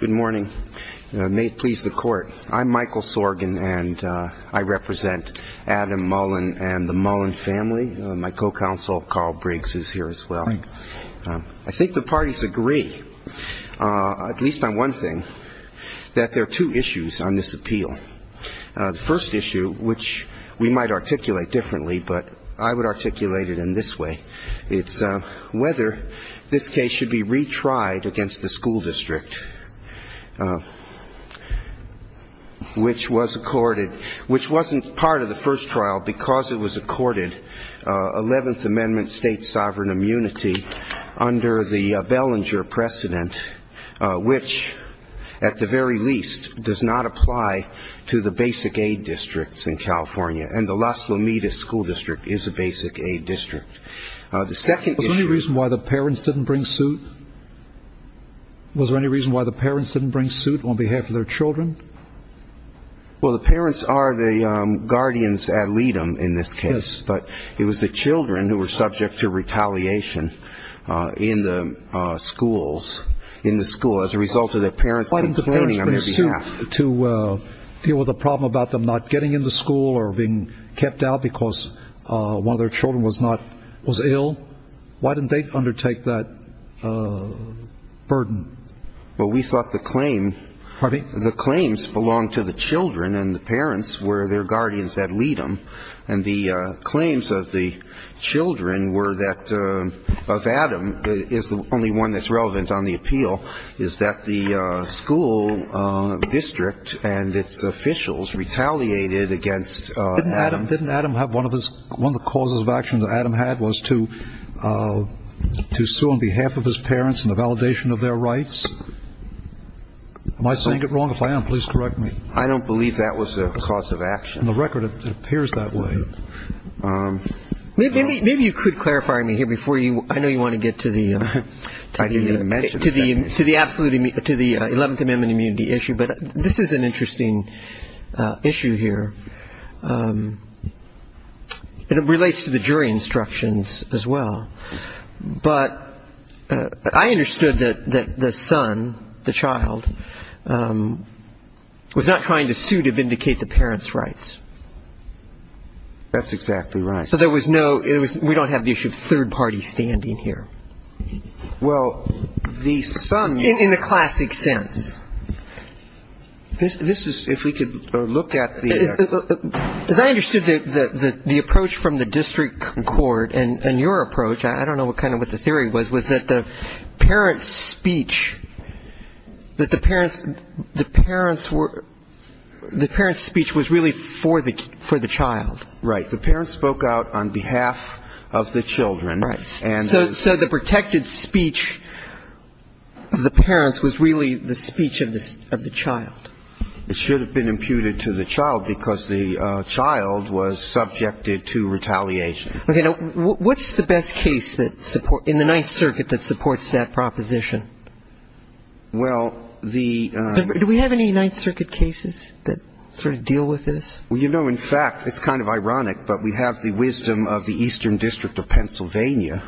Good morning. May it please the Court. I'm Michael Sorgin and I represent Adam Mullin and the Mullin family. My co-counsel Carl Briggs is here as well. I think the parties agree, at least on one thing, that there are two issues on this appeal. The first issue, which we might articulate differently, but I would articulate it in this way. It's whether this case should be retried against the school district, which was accorded, which wasn't part of the first trial because it was accorded under 11th Amendment state sovereign immunity under the Bellinger precedent, which, at the very least, does not apply to the basic aid districts in California. And the Las Lomitas School District is a basic aid district. Was there any reason why the parents didn't bring suit? Was there any reason why the parents didn't bring suit on behalf of their children? Well, the parents are the guardians ad litem in this case. But it was the children who were subject to retaliation in the schools, in the school, as a result of their parents complaining on their behalf. Why didn't the parents bring suit to deal with the problem about them not getting into school or being kept out because one of their children was ill? Why didn't they undertake that burden? Well, we thought the claim the claims belonged to the children, and the parents were their guardians ad litem. And the claims of the children were that of Adam is the only one that's relevant on the appeal, is that the school district and its officials retaliated against Adam. Didn't Adam have one of the causes of action that Adam had was to sue on behalf of his parents in the validation of their rights? Am I saying it wrong? If I am, please correct me. I don't believe that was the cause of action. On the record, it appears that way. Maybe you could clarify me here before you – I know you want to get to the – I didn't even mention that. But this is an interesting issue here, and it relates to the jury instructions as well. But I understood that the son, the child, was not trying to sue to vindicate the parents' rights. That's exactly right. So there was no – we don't have the issue of third parties standing here. Well, the son – In the classic sense. This is – if we could look at the – As I understood it, the approach from the district court and your approach, I don't know kind of what the theory was, was that the parents' speech, that the parents' – the parents were – the parents' speech was really for the child. Right. The parents spoke out on behalf of the children. Right. So the protected speech of the parents was really the speech of the child. It should have been imputed to the child because the child was subjected to retaliation. Okay. Now, what's the best case that – in the Ninth Circuit that supports that proposition? Well, the – Do we have any Ninth Circuit cases that sort of deal with this? Well, you know, in fact, it's kind of ironic, but we have the wisdom of the Eastern District of Pennsylvania.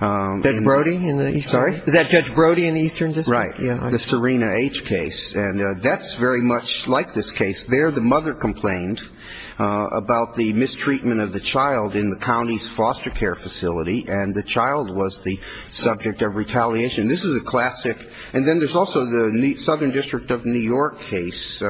Judge Brody? Sorry? Is that Judge Brody in the Eastern District? Right. The Serena H. case. And that's very much like this case. There the mother complained about the mistreatment of the child in the county's foster care facility, and the child was the subject of retaliation. This is a classic. And then there's also the Southern District of New York case,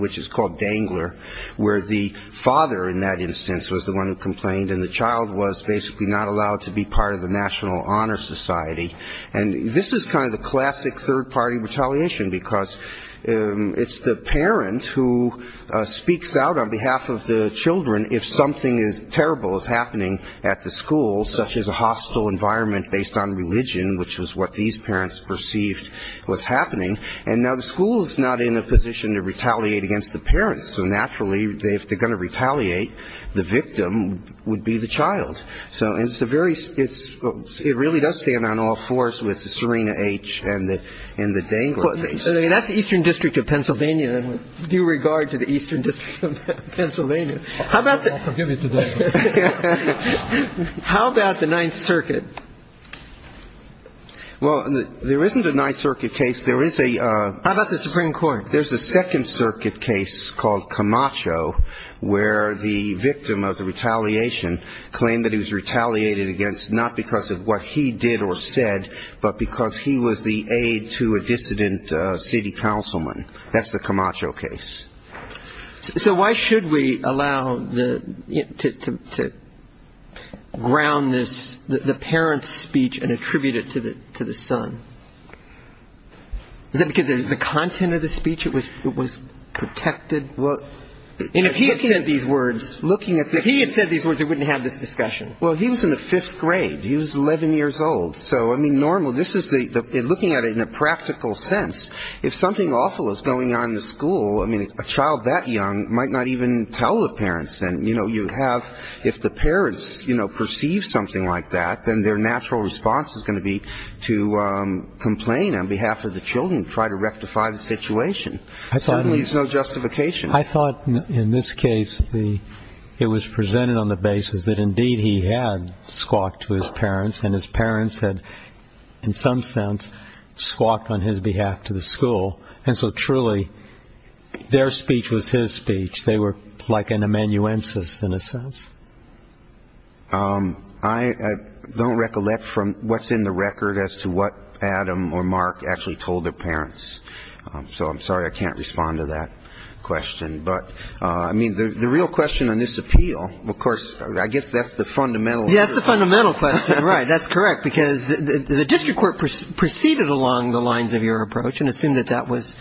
which is called Dangler, where the father, in that instance, was the one who complained, and the child was basically not allowed to be part of the National Honor Society. And this is kind of the classic third-party retaliation because it's the parent who speaks out on behalf of the children if something terrible is happening at the school, such as a hostile environment based on religion, which was what these parents perceived was happening. And now the school is not in a position to retaliate against the parents. So naturally, if they're going to retaliate, the victim would be the child. So it's a very – it really does stand on all fours with the Serena H. and the Dangler case. That's the Eastern District of Pennsylvania. And with due regard to the Eastern District of Pennsylvania, how about the – I'll forgive you today. How about the Ninth Circuit? Well, there isn't a Ninth Circuit case. There is a – How about the Supreme Court? There's a Second Circuit case called Camacho, where the victim of the retaliation claimed that he was retaliated against not because of what he did or said, but because he was the aide to a dissident city councilman. That's the Camacho case. So why should we allow the – to ground this – the parents' speech and attribute it to the son? Is that because the content of the speech, it was protected? And if he had said these words, looking at this – If he had said these words, we wouldn't have this discussion. Well, he was in the fifth grade. He was 11 years old. So, I mean, normal – this is the – looking at it in a practical sense, if something awful is going on in the school, I mean, a child that young might not even tell the parents. And, you know, you have – if the parents, you know, perceive something like that, then their natural response is going to be to complain on behalf of the children, try to rectify the situation. There's no justification. I thought in this case the – it was presented on the basis that, indeed, he had squawked to his parents, and his parents had, in some sense, squawked on his behalf to the school. And so, truly, their speech was his speech. They were like an amanuensis in a sense. I don't recollect from what's in the record as to what Adam or Mark actually told their parents. So I'm sorry I can't respond to that question. But, I mean, the real question on this appeal, of course, I guess that's the fundamental – Right, that's correct, because the district court proceeded along the lines of your approach and assumed that that was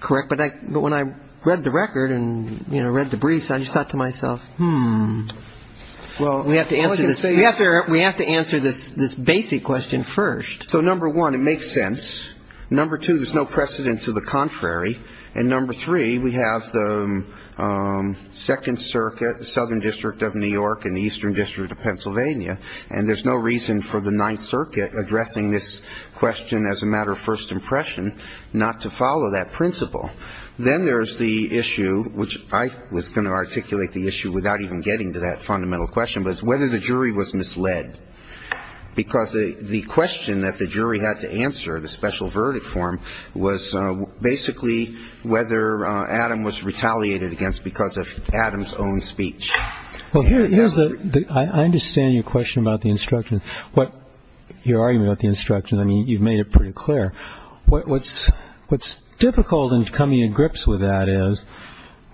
correct. But when I read the record and, you know, read the briefs, I just thought to myself, hmm. We have to answer this – we have to answer this basic question first. So, number one, it makes sense. Number two, there's no precedent to the contrary. And number three, we have the Second Circuit, the Southern District of New York and the Eastern District of Pennsylvania. And there's no reason for the Ninth Circuit, addressing this question as a matter of first impression, not to follow that principle. Then there's the issue, which I was going to articulate the issue without even getting to that fundamental question, was whether the jury was misled. Because the question that the jury had to answer, the special verdict form, was basically whether Adam was retaliated against because of Adam's own speech. Well, here's the – I understand your question about the instructions. What – your argument about the instructions, I mean, you've made it pretty clear. What's difficult in coming to grips with that is,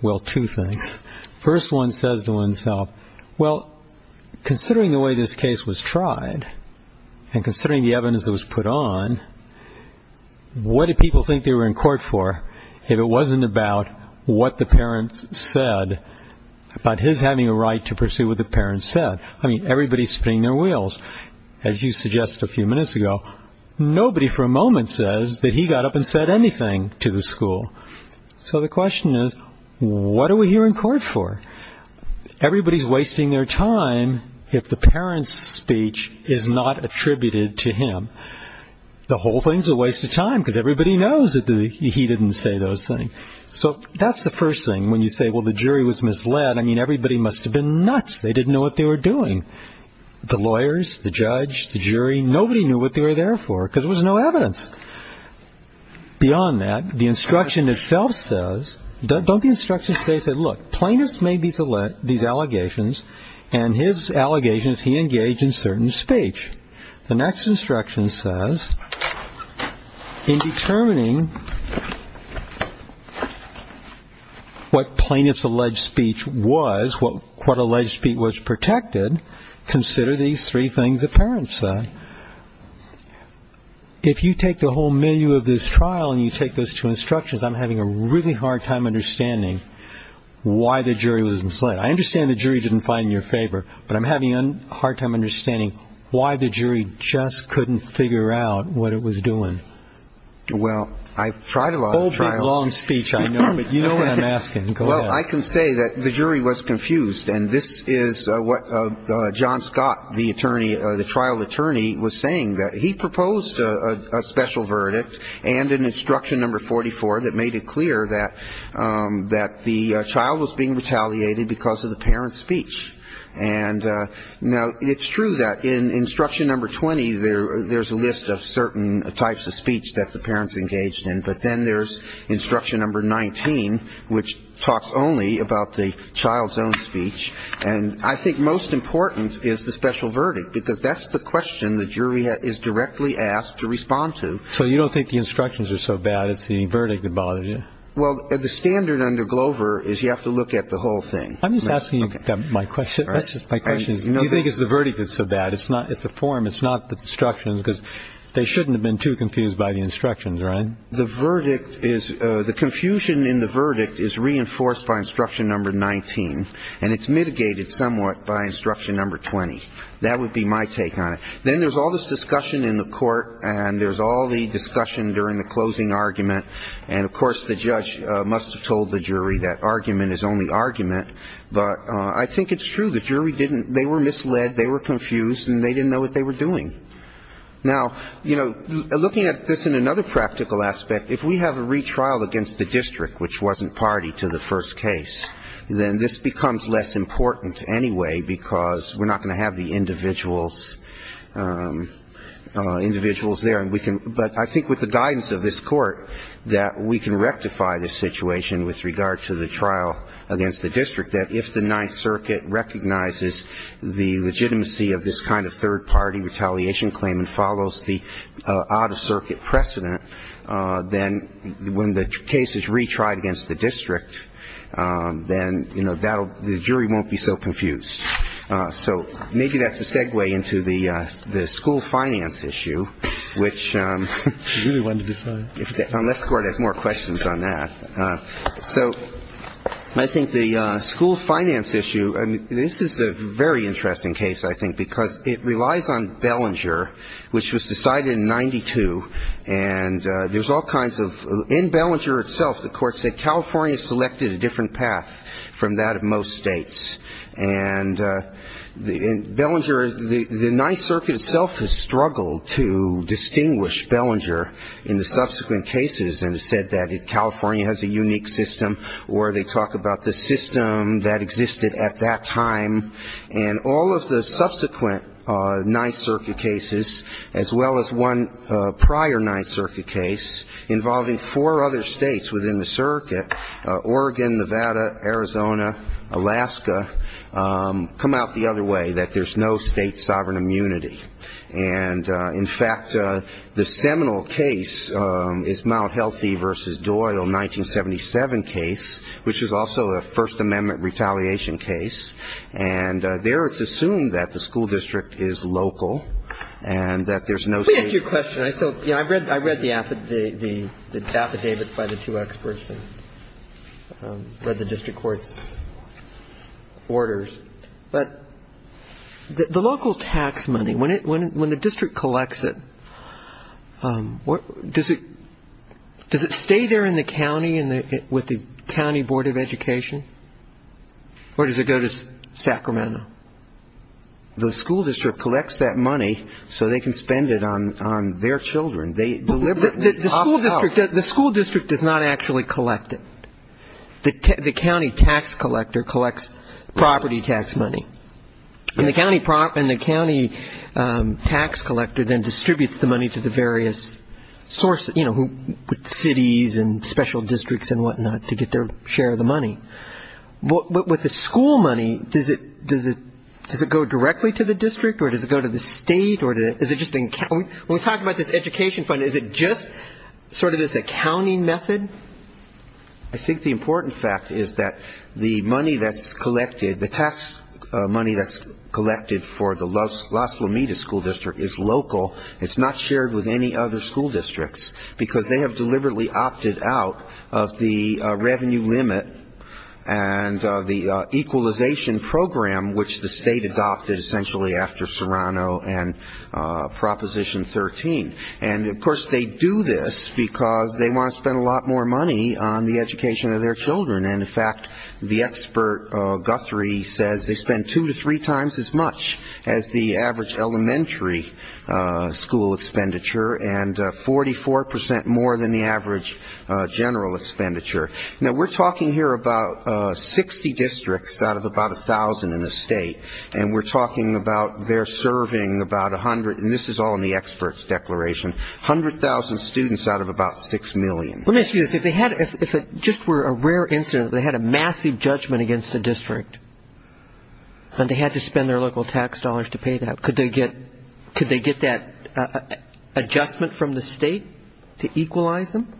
well, two things. First one says to oneself, well, considering the way this case was tried and considering the evidence that was put on, what did people think they were in court for if it wasn't about what the parents said, about his having a right to pursue what the parents said? I mean, everybody's spinning their wheels. As you suggested a few minutes ago, nobody for a moment says that he got up and said anything to the school. So the question is, what are we here in court for? Everybody's wasting their time if the parent's speech is not attributed to him. The whole thing's a waste of time because everybody knows that he didn't say those things. So that's the first thing. When you say, well, the jury was misled, I mean, everybody must have been nuts. They didn't know what they were doing. The lawyers, the judge, the jury, nobody knew what they were there for because there was no evidence. Beyond that, the instruction itself says – don't the instructions say, look, plaintiff's made these allegations and his allegation is he engaged in certain speech. The next instruction says, in determining what plaintiff's alleged speech was, what alleged speech was protected, consider these three things the parents said. If you take the whole menu of this trial and you take those two instructions, I'm having a really hard time understanding why the jury was misled. I understand the jury didn't find it in your favor, but I'm having a hard time understanding why the jury just couldn't figure out what it was doing. Well, I've tried a lot of trials. A big, long speech, I know, but you know what I'm asking. Well, I can say that the jury was confused, and this is what John Scott, the trial attorney, was saying. He proposed a special verdict and an instruction number 44 that made it clear that the child was being retaliated because of the parent's speech. And now it's true that in instruction number 20, there's a list of certain types of speech that the parent's engaged in, but then there's instruction number 19, which talks only about the child's own speech. And I think most important is the special verdict, because that's the question the jury is directly asked to respond to. So you don't think the instructions are so bad, it's the verdict that bothers you? Well, the standard under Glover is you have to look at the whole thing. I'm just asking you my question. My question is do you think it's the verdict that's so bad? It's the form, it's not the instructions, because they shouldn't have been too confused by the instructions, right? The verdict is the confusion in the verdict is reinforced by instruction number 19, and it's mitigated somewhat by instruction number 20. That would be my take on it. Then there's all this discussion in the court, and there's all the discussion during the closing argument, and of course the judge must have told the jury that argument is only argument. But I think it's true. The jury didn't they were misled, they were confused, and they didn't know what they were doing. Now, you know, looking at this in another practical aspect, if we have a retrial against the district, which wasn't party to the first case, then this becomes less important anyway, because we're not going to have the individuals there. But I think with the guidance of this court that we can rectify this situation with regard to the trial against the district, that if the Ninth Circuit recognizes the legitimacy of this kind of third-party retaliation claim and follows the out-of-circuit precedent, then when the case is retried against the district, then the jury won't be so confused. So maybe that's a segue into the school finance issue, which unless the court has more questions on that. So I think the school finance issue, I mean, this is a very interesting case, I think, because it relies on Bellinger, which was decided in 92, and there's all kinds of in Bellinger itself the court said California selected a different path from that of most states. And Bellinger, the Ninth Circuit itself has struggled to distinguish Bellinger in the subsequent cases and has said that California has a unique system, or they talk about the system that existed at that time. And all of the subsequent Ninth Circuit cases, as well as one prior Ninth Circuit case, involving four other states within the circuit, Oregon, Nevada, Arizona, Alaska, come out the other way, that there's no state sovereign immunity. And, in fact, the seminal case is Mount Healthy v. Doyle, 1977 case, which is also a First Amendment retaliation case. And there it's assumed that the school district is local and that there's no state. I read the affidavits by the two experts and read the district court's orders, but the local tax money, when the district collects it, does it stay there in the county with the county board of education, or does it go to Sacramento? The school district collects that money so they can spend it on their children. The school district does not actually collect it. The county tax collector collects property tax money. And the county tax collector then distributes the money to the various sources, you know, cities and special districts and whatnot, to get their share of the money. With the school money, does it go directly to the district, or does it go to the state, or is it just in county? When we talk about this education fund, is it just sort of this accounting method? I think the important fact is that the money that's collected, the tax money that's collected for the Las Lomitas School District is local. It's not shared with any other school districts, because they have deliberately opted out of the revenue limit and the equalization program, which the state adopted essentially after Serrano and Proposition 13. And, of course, they do this because they want to spend a lot more money on the education of their children. And, in fact, the expert Guthrie says they spend two to three times as much as the average elementary school expenditure, and 44% more than the average general expenditure. Now, we're talking here about 60 districts out of about 1,000 in the state, and we're talking about their serving about 100, and this is all in the expert's declaration, 100,000 students out of about 6 million. Let me ask you this. If it just were a rare incident, they had a massive judgment against the district, and they had to spend their local tax dollars to pay that, could they get that adjustment from the state to equalize them?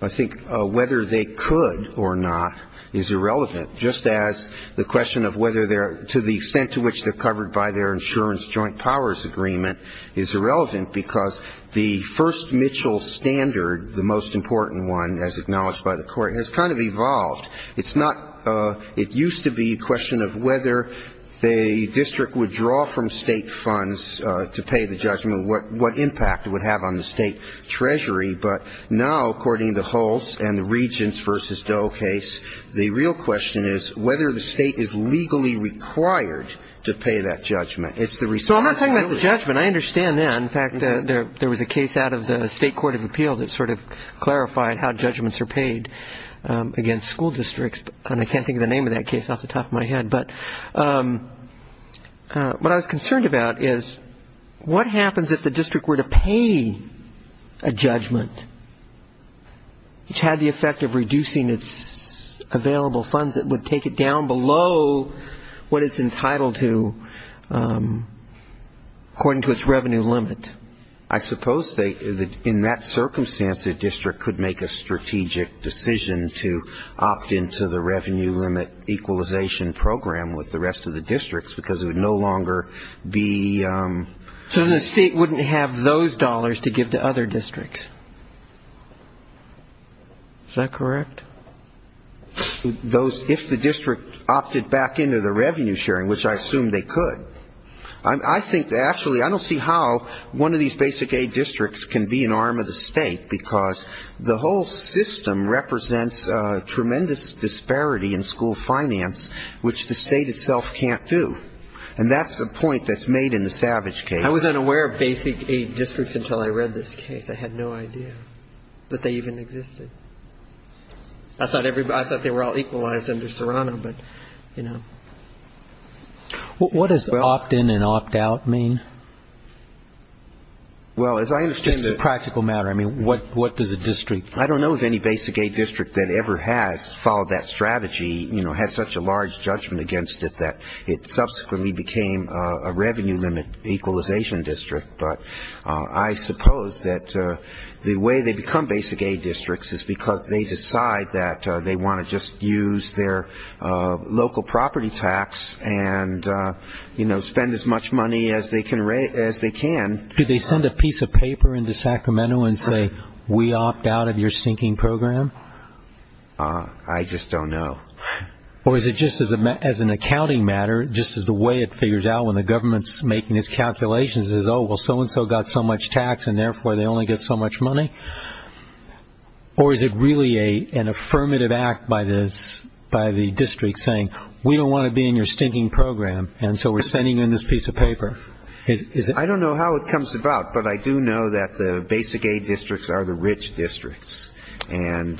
I think whether they could or not is irrelevant, just as the question of whether they're to the extent to which they're covered by their insurance joint powers agreement is irrelevant because the first Mitchell standard, the most important one as acknowledged by the court, has kind of evolved. It used to be a question of whether the district would draw from state funds to pay the judgment, what impact it would have on the state treasury. But now, according to Hulse and the Regents v. Doe case, the real question is whether the state is legally required to pay that judgment. It's the responsibility. So I'm not talking about the judgment. I understand that. In fact, there was a case out of the State Court of Appeals that sort of clarified how judgments are paid against school districts, and I can't think of the name of that case off the top of my head. But what I was concerned about is what happens if the district were to pay a judgment, which had the effect of reducing its available funds, it would take it down below what it's entitled to according to its revenue limit. I suppose in that circumstance, the district could make a strategic decision to opt into the revenue limit equalization program with the rest of the districts because it would no longer be ---- So the state wouldn't have those dollars to give to other districts. Is that correct? If the district opted back into the revenue sharing, which I assume they could. I think actually I don't see how one of these basic aid districts can be an arm of the state because the whole system represents a tremendous disparity in school finance, which the state itself can't do. And that's the point that's made in the Savage case. I was unaware of basic aid districts until I read this case. I had no idea that they even existed. I thought they were all equalized under Serrano, but, you know. What does opt-in and opt-out mean? Well, as I understand it ---- This is a practical matter. I mean, what does a district ---- I don't know of any basic aid district that ever has followed that strategy, you know, had such a large judgment against it that it subsequently became a revenue limit equalization district. But I suppose that the way they become basic aid districts is because they decide that they want to just use their local property tax and, you know, spend as much money as they can. Do they send a piece of paper into Sacramento and say, we opt out of your stinking program? I just don't know. Or is it just as an accounting matter, just as the way it figures out when the government's making its calculations is, oh, well, so-and-so got so much tax and, therefore, they only get so much money? Or is it really an affirmative act by the district saying, we don't want to be in your stinking program, and so we're sending in this piece of paper? I don't know how it comes about, but I do know that the basic aid districts are the rich districts, and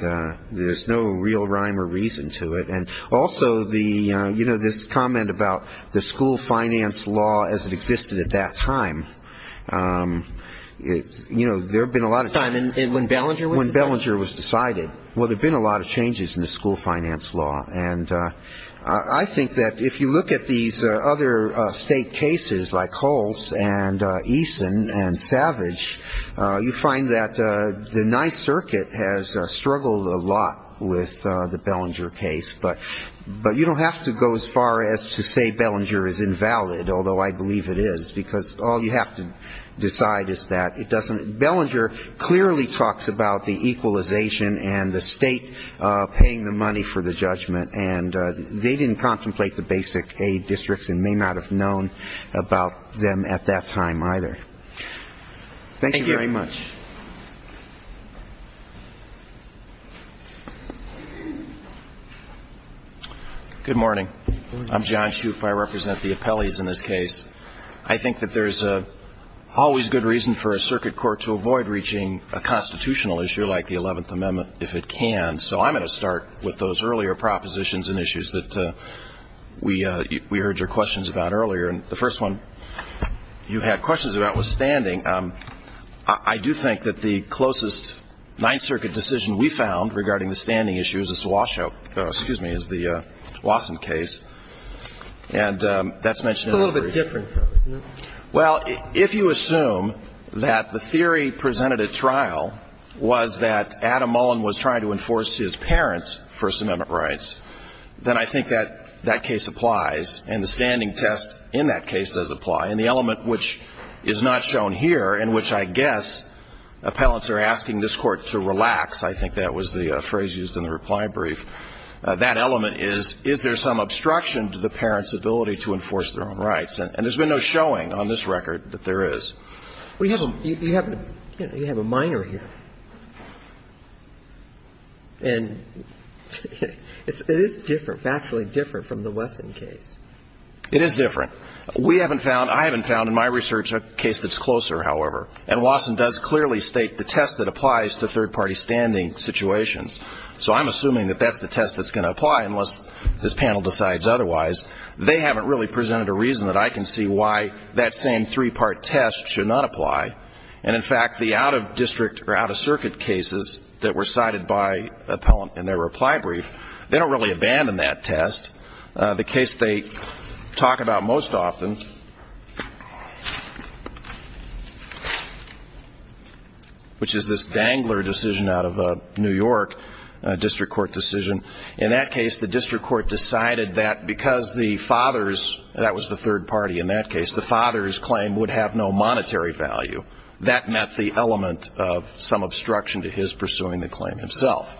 there's no real rhyme or reason to it. And also, you know, this comment about the school finance law as it existed at that time, you know, there have been a lot of changes. When Bellinger was decided? When Bellinger was decided. Well, there have been a lot of changes in the school finance law. And I think that if you look at these other state cases like Holtz and Eason and Savage, you find that the ninth circuit has struggled a lot with the Bellinger case. But you don't have to go as far as to say Bellinger is invalid, although I believe it is, because all you have to decide is that it doesn't. But Bellinger clearly talks about the equalization and the state paying the money for the judgment, and they didn't contemplate the basic aid districts and may not have known about them at that time either. Thank you very much. Thank you. Good morning. I'm John Shoup. I represent the appellees in this case. I think that there's always good reason for a circuit court to avoid reaching a constitutional issue like the Eleventh Amendment if it can. So I'm going to start with those earlier propositions and issues that we heard your questions about earlier. And the first one you had questions about was standing. I do think that the closest ninth circuit decision we found regarding the standing issue is the Watson case. And that's mentioned in the brief. It's a little bit different, though, isn't it? Well, if you assume that the theory presented at trial was that Adam Mullen was trying to enforce his parents' First Amendment rights, then I think that that case applies, and the standing test in that case does apply. And the element which is not shown here and which I guess appellants are asking this Court to relax, I think that was the phrase used in the reply brief, that element is, is there some obstruction to the parents' ability to enforce their own rights? And there's been no showing on this record that there is. You have a minor here. And it is different, factually different from the Watson case. It is different. We haven't found, I haven't found in my research a case that's closer, however. And Watson does clearly state the test that applies to third-party standing situations. So I'm assuming that that's the test that's going to apply unless this panel decides otherwise. They haven't really presented a reason that I can see why that same three-part test should not apply. And, in fact, the out-of-district or out-of-circuit cases that were cited by appellant in their reply brief, they don't really abandon that test. The case they talk about most often, which is this Dangler decision out of a New York district court decision, in that case the district court decided that because the father's, that was the third party in that case, the father's claim would have no monetary value. That met the element of some obstruction to his pursuing the claim himself.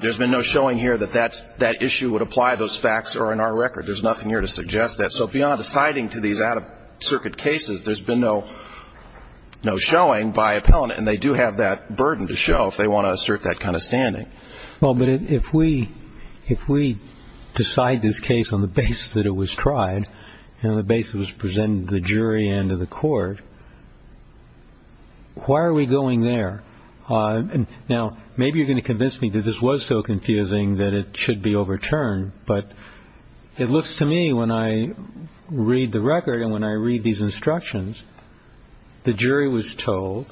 There's been no showing here that that issue would apply. Those facts are in our record. There's nothing here to suggest that. So beyond the citing to these out-of-circuit cases, there's been no showing by appellant. And they do have that burden to show if they want to assert that kind of standing. Well, but if we decide this case on the basis that it was tried, and on the basis it was presented to the jury and to the court, why are we going there? Now, maybe you're going to convince me that this was so confusing that it should be overturned, but it looks to me when I read the record and when I read these instructions, the jury was told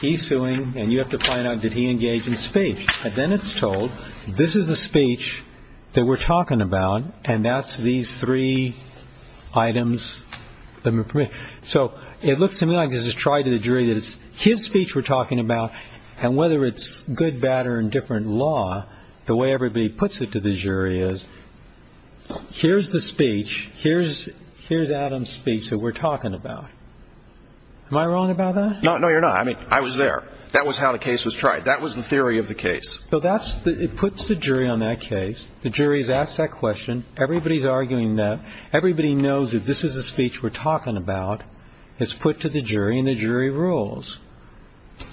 he's suing, and you have to find out did he engage in speech. And then it's told this is the speech that we're talking about, and that's these three items. So it looks to me like this is tried to the jury that it's his speech we're talking about, and whether it's good, bad, or indifferent law, the way everybody puts it to the jury is, here's the speech, here's Adam's speech that we're talking about. Am I wrong about that? No, you're not. I mean, I was there. That was how the case was tried. That was the theory of the case. So it puts the jury on that case. The jury has asked that question. Everybody's arguing that. Everybody knows that this is the speech we're talking about. It's put to the jury, and the jury rules.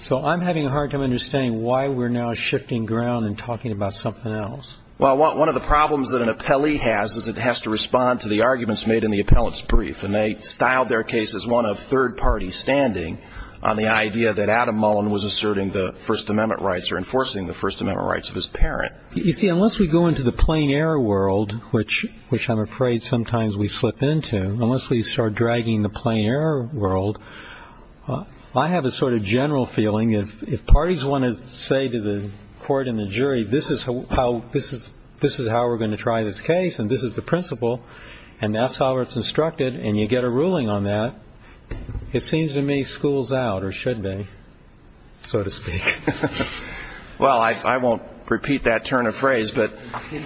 So I'm having a hard time understanding why we're now shifting ground and talking about something else. Well, one of the problems that an appellee has is it has to respond to the arguments made in the appellate's brief, and they styled their case as one of third-party standing on the idea that Adam Mullen was asserting the First Amendment rights or enforcing the First Amendment rights of his parent. You see, unless we go into the plain-error world, which I'm afraid sometimes we slip into, unless we start dragging the plain-error world, I have a sort of general feeling, if parties want to say to the court and the jury, this is how we're going to try this case, and this is the principle, and that's how it's instructed, and you get a ruling on that, it seems to me schools out, or should they, so to speak. Well, I won't repeat that turn of phrase, but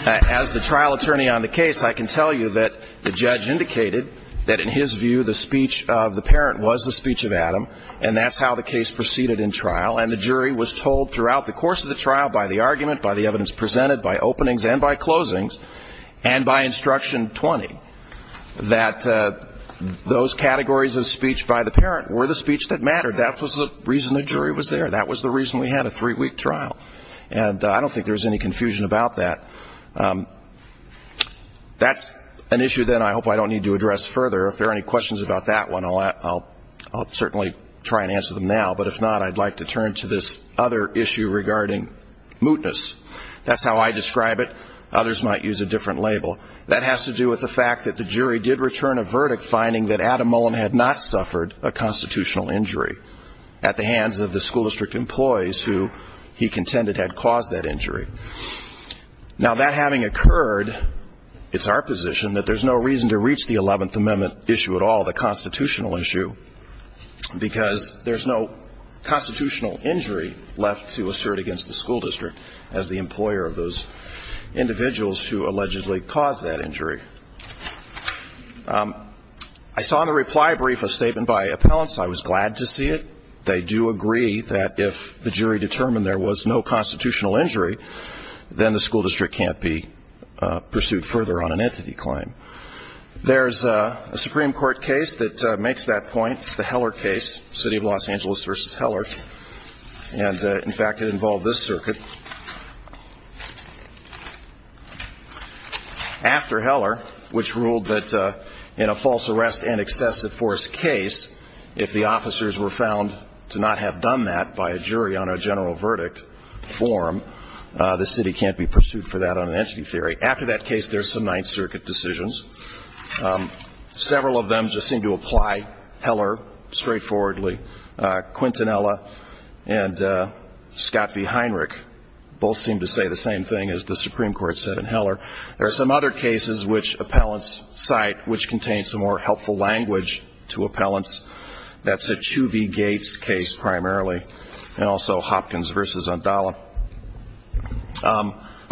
as the trial attorney on the case, I can tell you that the judge indicated that in his view the speech of the parent was the speech of Adam, and that's how the case proceeded in trial, and the jury was told throughout the course of the trial by the argument, by the evidence presented, by openings and by closings, and by Instruction 20, that those categories of speech by the parent were the speech that mattered. That was the reason the jury was there. That was the reason we had a three-week trial, and I don't think there's any confusion about that. That's an issue, then, I hope I don't need to address further. If there are any questions about that one, I'll certainly try and answer them now, but if not, I'd like to turn to this other issue regarding mootness. That's how I describe it. Others might use a different label. That has to do with the fact that the jury did return a verdict finding that Adam Mullen had not suffered a constitutional injury at the hands of the school district employees who he contended had caused that injury. Now, that having occurred, it's our position that there's no reason to reach the Eleventh Amendment issue at all, the constitutional issue, because there's no constitutional injury left to assert against the school district as the employer of those individuals who allegedly caused that injury. I saw in the reply brief a statement by appellants. I was glad to see it. They do agree that if the jury determined there was no constitutional injury, then the school district can't be pursued further on an entity claim. There's a Supreme Court case that makes that point. It's the Heller case, City of Los Angeles v. Heller, and, in fact, it involved this circuit. After Heller, which ruled that in a false arrest and excessive force case, if the officers were found to not have done that by a jury on a general verdict form, the city can't be pursued for that on an entity theory. After that case, there's some Ninth Circuit decisions. Several of them just seem to apply. Heller, straightforwardly. Quintanilla and Scott v. Heinrich both seem to say the same thing as the Supreme Court said in Heller. There are some other cases which appellants cite which contain some more helpful language to appellants. That's the Chu v. Gates case primarily, and also Hopkins v. Andala.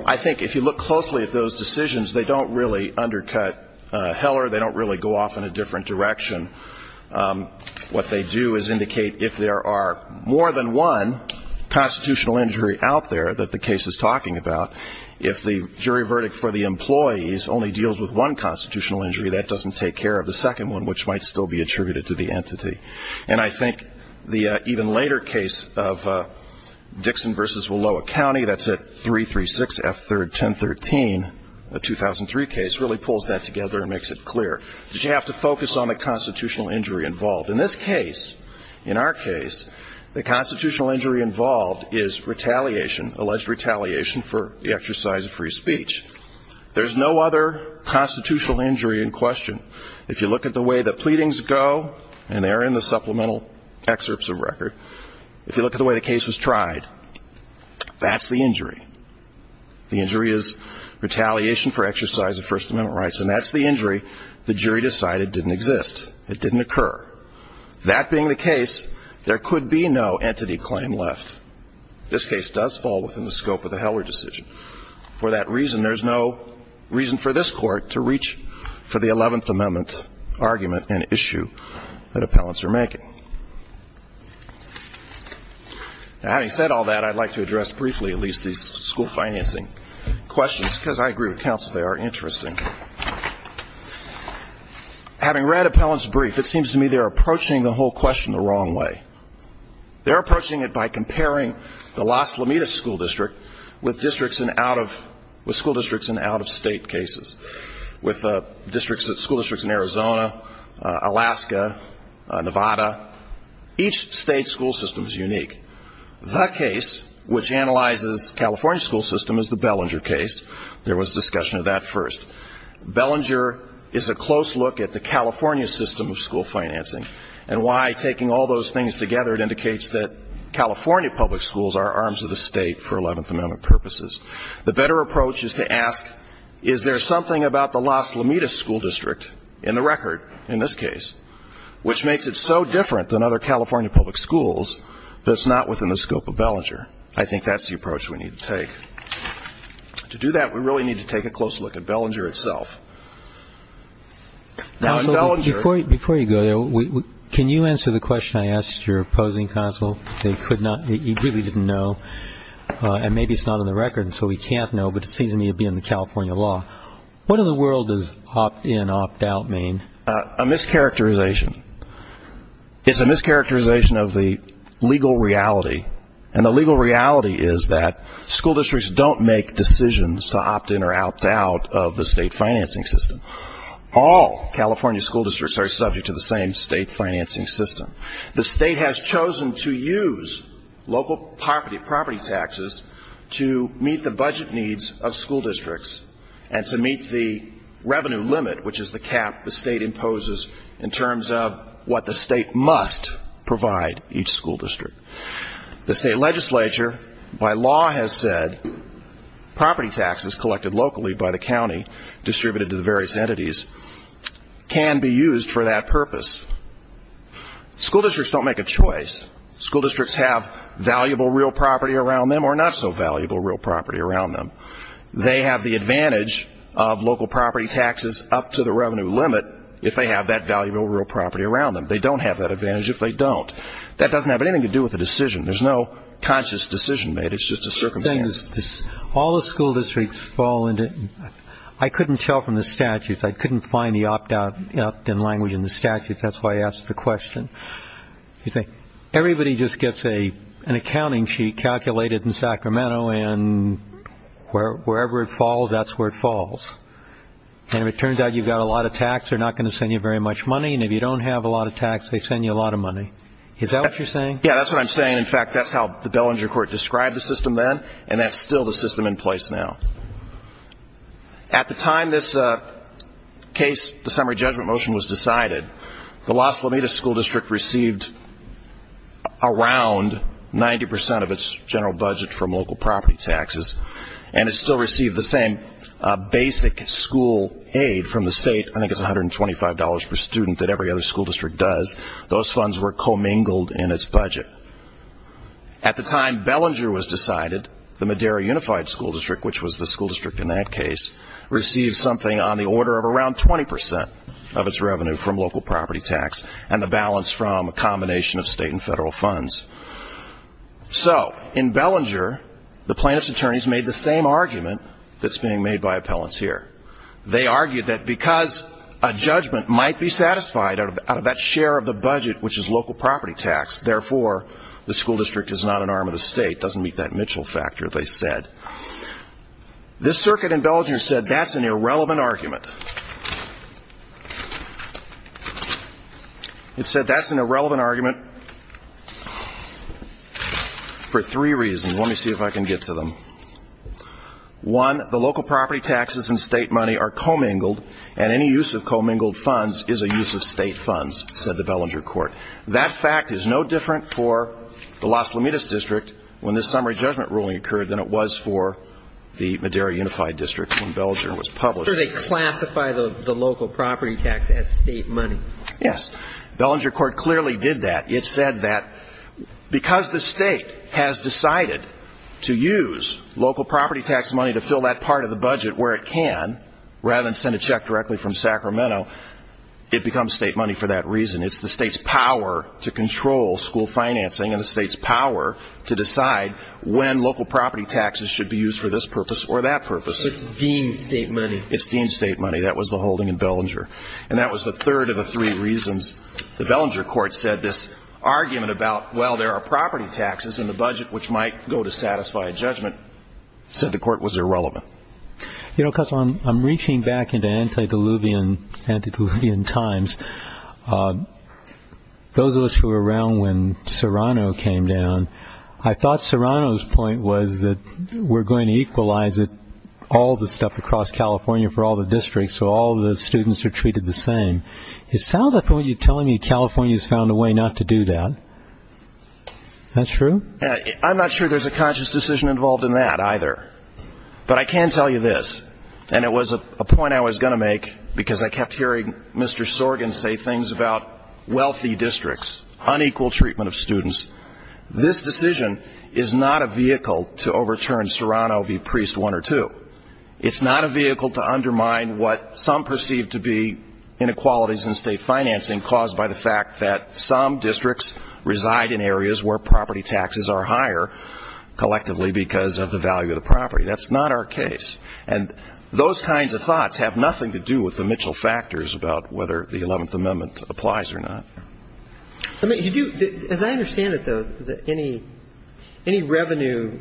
I think if you look closely at those decisions, they don't really undercut Heller. They don't really go off in a different direction. What they do is indicate if there are more than one constitutional injury out there that the case is talking about, if the jury verdict for the employees only deals with one constitutional injury, that doesn't take care of the second one, which might still be attributed to the entity. And I think the even later case of Dixon v. Willowa County, that's at 336 F. 3rd, 1013, a 2003 case, really pulls that together and makes it clear that you have to focus on the constitutional injury involved. In this case, in our case, the constitutional injury involved is retaliation, alleged retaliation for the exercise of free speech. There's no other constitutional injury in question. If you look at the way the pleadings go, and they are in the supplemental excerpts of record, if you look at the way the case was tried, that's the injury. The injury is retaliation for exercise of First Amendment rights, and that's the injury the jury decided didn't exist. It didn't occur. That being the case, there could be no entity claim left. This case does fall within the scope of the Heller decision. For that reason, there's no reason for this Court to reach for the Eleventh Amendment argument and issue that appellants are making. Having said all that, I'd like to address briefly at least these school financing questions, because I agree with counsel, they are interesting. Having read appellants' brief, it seems to me they're approaching the whole question the wrong way. They're approaching it by comparing the Las Lomitas School District with districts in out-of-state cases, with school districts in Arizona, Alaska, Nevada. Each state's school system is unique. The case which analyzes California's school system is the Bellinger case. There was discussion of that first. Bellinger is a close look at the California system of school financing, and why taking all those things together, it indicates that California public schools are arms of the state for Eleventh Amendment purposes. The better approach is to ask, is there something about the Las Lomitas School District in the record in this case, which makes it so different than other California public schools that it's not within the scope of Bellinger? I think that's the approach we need to take. To do that, we really need to take a close look at Bellinger itself. Now, in Bellinger ---- Before you go there, can you answer the question I asked your opposing counsel? He really didn't know, and maybe it's not in the record, so he can't know, but it seems to me to be in the California law. What in the world does opt-in, opt-out mean? A mischaracterization. It's a mischaracterization of the legal reality, and the legal reality is that school districts don't make decisions to opt-in or opt-out of the state financing system. All California school districts are subject to the same state financing system. The state has chosen to use local property taxes to meet the budget needs of school districts and to meet the revenue limit, which is the cap the state imposes in terms of what the state must provide each school district. The state legislature, by law, has said property taxes collected locally by the county, distributed to the various entities, can be used for that purpose. School districts don't make a choice. School districts have valuable real property around them or not so valuable real property around them. They have the advantage of local property taxes up to the revenue limit if they have that valuable real property around them. They don't have that advantage if they don't. That doesn't have anything to do with the decision. There's no conscious decision made. It's just a circumstance. All the school districts fall into – I couldn't tell from the statutes. I couldn't find the opt-out in language in the statutes. That's why I asked the question. Everybody just gets an accounting sheet calculated in Sacramento, and wherever it falls, that's where it falls. And if it turns out you've got a lot of tax, they're not going to send you very much money, and if you don't have a lot of tax, they send you a lot of money. Is that what you're saying? Yeah, that's what I'm saying. In fact, that's how the Bellinger Court described the system then, and that's still the system in place now. At the time this case, the summary judgment motion was decided, the Las Lomitas School District received around 90% of its general budget from local property taxes, and it still received the same basic school aid from the state, I think it's $125 per student, that every other school district does. Those funds were commingled in its budget. At the time Bellinger was decided, the Madera Unified School District, which was the school district in that case, received something on the order of around 20% of its revenue from local property tax and the balance from a combination of state and federal funds. So in Bellinger, the plaintiff's attorneys made the same argument that's being made by appellants here. They argued that because a judgment might be satisfied out of that share of the budget, which is local property tax, therefore, the school district is not an arm of the state, doesn't meet that Mitchell factor, they said. This circuit in Bellinger said that's an irrelevant argument. It said that's an irrelevant argument for three reasons. Let me see if I can get to them. One, the local property taxes and state money are commingled, and any use of commingled funds is a use of state funds, said the Bellinger court. That fact is no different for the Las Lomitas District when this summary judgment ruling occurred than it was for the Madera Unified District when Bellinger was published. I'm not sure they classify the local property tax as state money. Yes. Bellinger court clearly did that. It said that because the state has decided to use local property tax money to fill that part of the budget where it can, rather than send a check directly from Sacramento, it becomes state money for that reason. It's the state's power to control school financing and the state's power to decide when local property taxes should be used for this purpose or that purpose. So it's deemed state money. It's deemed state money. That was the holding in Bellinger. And that was the third of the three reasons the Bellinger court said this argument about, well, there are property taxes in the budget which might go to satisfy a judgment, said the court was irrelevant. You know, Cutler, I'm reaching back into antediluvian times. Those of us who were around when Serrano came down, I thought Serrano's point was that we're going to equalize all the stuff across California for all the districts so all the students are treated the same. It sounds like you're telling me California has found a way not to do that. Is that true? I'm not sure there's a conscious decision involved in that either. But I can tell you this, and it was a point I was going to make because I kept hearing Mr. Sorgen say things about wealthy districts, unequal treatment of students. This decision is not a vehicle to overturn Serrano v. Priest one or two. It's not a vehicle to undermine what some perceive to be inequalities in state financing caused by the fact that some districts reside in areas where property taxes are higher collectively because of the value of the property. That's not our case. And those kinds of thoughts have nothing to do with the Mitchell factors about whether the Eleventh Amendment applies or not. As I understand it, though, any revenue,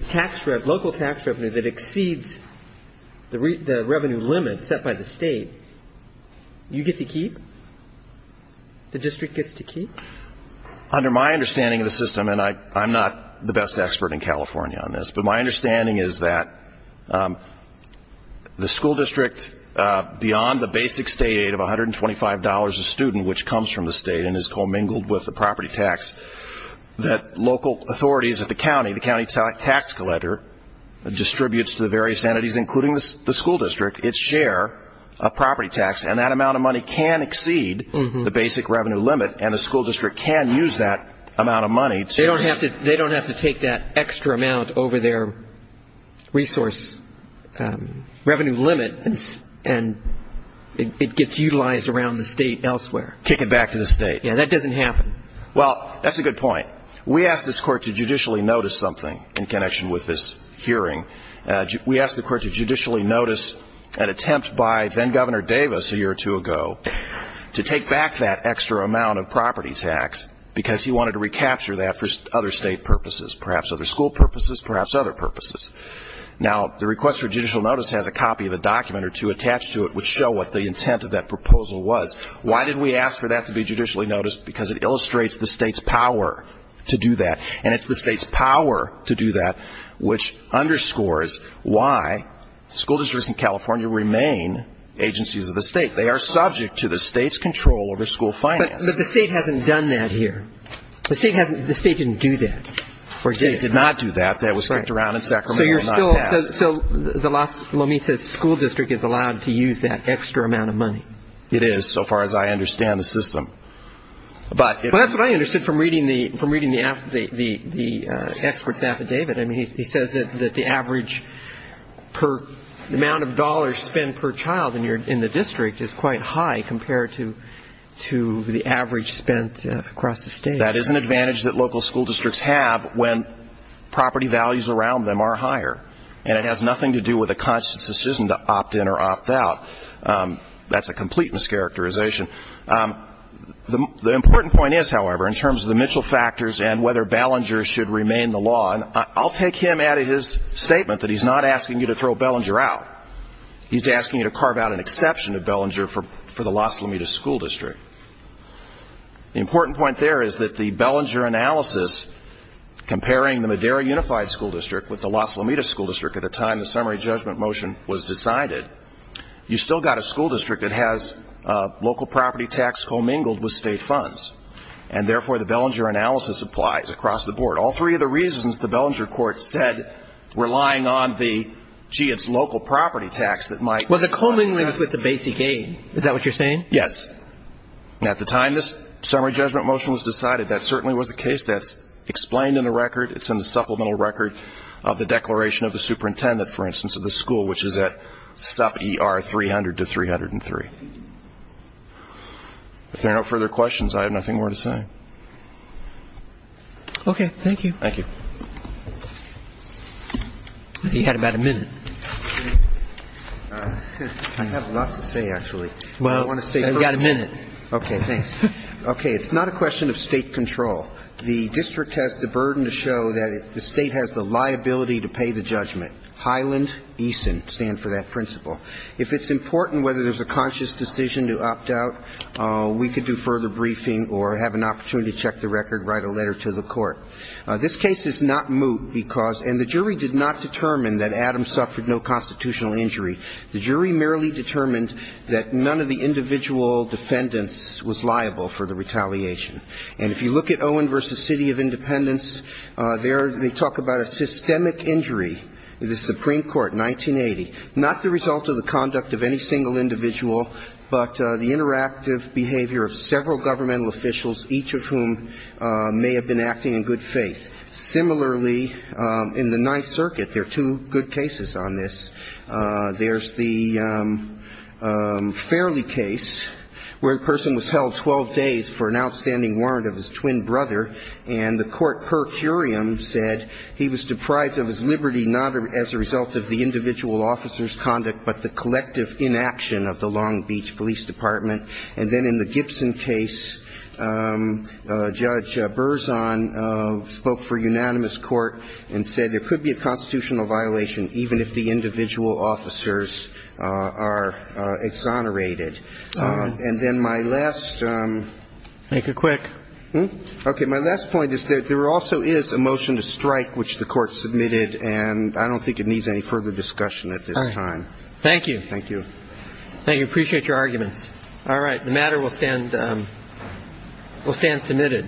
local tax revenue that exceeds the revenue limit set by the state, you get to keep? The district gets to keep? Under my understanding of the system, and I'm not the best expert in California on this, but my understanding is that the school district, beyond the basic state aid of $125 a student, which comes from the state and is commingled with the property tax that local authorities at the county, the county tax collector distributes to the various entities, including the school district, its share of property tax. And that amount of money can exceed the basic revenue limit, and the school district can use that amount of money to They don't have to take that extra amount over their resource revenue limit, and it gets utilized around the state elsewhere. Kick it back to the state. Yeah, that doesn't happen. Well, that's a good point. We asked this Court to judicially notice something in connection with this hearing. We asked the Court to judicially notice an attempt by then-Governor Davis a year or two ago to take back that extra amount of property tax because he wanted to recapture that for other state purposes, perhaps other school purposes, perhaps other purposes. Now, the request for judicial notice has a copy of a document or two attached to it which show what the intent of that proposal was. Why did we ask for that to be judicially noticed? Because it illustrates the state's power to do that, and it's the state's power to do that which underscores why school districts in California remain agencies of the state. They are subject to the state's control over school finance. But the state hasn't done that here. The state didn't do that. The state did not do that. That was spent around in Sacramento and not passed. So the Las Lomitas School District is allowed to use that extra amount of money? It is so far as I understand the system. Well, that's what I understood from reading the expert's affidavit. I mean, he says that the average amount of dollars spent per child in the district is quite high compared to the average spent across the state. That is an advantage that local school districts have when property values around them are higher, and it has nothing to do with a conscious decision to opt in or opt out. That's a complete mischaracterization. The important point is, however, in terms of the Mitchell factors and whether Ballenger should remain the law, and I'll take him out of his statement that he's not asking you to throw Ballenger out. He's asking you to carve out an exception to Ballenger for the Las Lomitas School District. The important point there is that the Ballenger analysis comparing the Madera Unified School District with the Las Lomitas School District at the time the summary judgment motion was decided, you still got a school district that has local property tax commingled with state funds, and therefore the Ballenger analysis applies across the board. All three of the reasons the Ballenger court said were lying on the, gee, it's local property tax that might. Well, the commingling is with the basic aid. Is that what you're saying? Yes. And at the time this summary judgment motion was decided, that certainly was the case. That's explained in the record. It's in the supplemental record of the declaration of the superintendent, for instance, of the school, which is at sup ER 300 to 303. If there are no further questions, I have nothing more to say. Okay. Thank you. Thank you. You had about a minute. I have lots to say, actually. Well, I've got a minute. Okay. Thanks. Okay. It's not a question of state control. The district has the burden to show that the state has the liability to pay the judgment. Highland, Eason stand for that principle. If it's important whether there's a conscious decision to opt out, we could do further briefing or have an opportunity to check the record, write a letter to the court. This case is not moot because, and the jury did not determine that Adams suffered no constitutional injury. The jury merely determined that none of the individual defendants was liable for the retaliation. And if you look at Owen v. City of Independence, there they talk about a systemic injury. The Supreme Court, 1980, not the result of the conduct of any single individual, but the interactive behavior of several governmental officials, each of whom may have been acting in good faith. Similarly, in the Ninth Circuit, there are two good cases on this. There's the Fairley case where a person was held 12 days for an outstanding warrant of his twin brother, and the court per curiam said he was deprived of his liberty not as a result of the individual officer's conduct, but the collective inaction of the Long Beach Police Department. And then in the Gibson case, Judge Berzon spoke for unanimous court and said there could be a constitutional violation even if the individual officers are exonerated. And then my last ‑‑ Make it quick. Okay. My last point is there also is a motion to strike which the court submitted, and I don't think it needs any further discussion at this time. All right. Thank you. Thank you. Thank you. Appreciate your arguments. All right. The matter will stand ‑‑ will stand submitted. Thank you.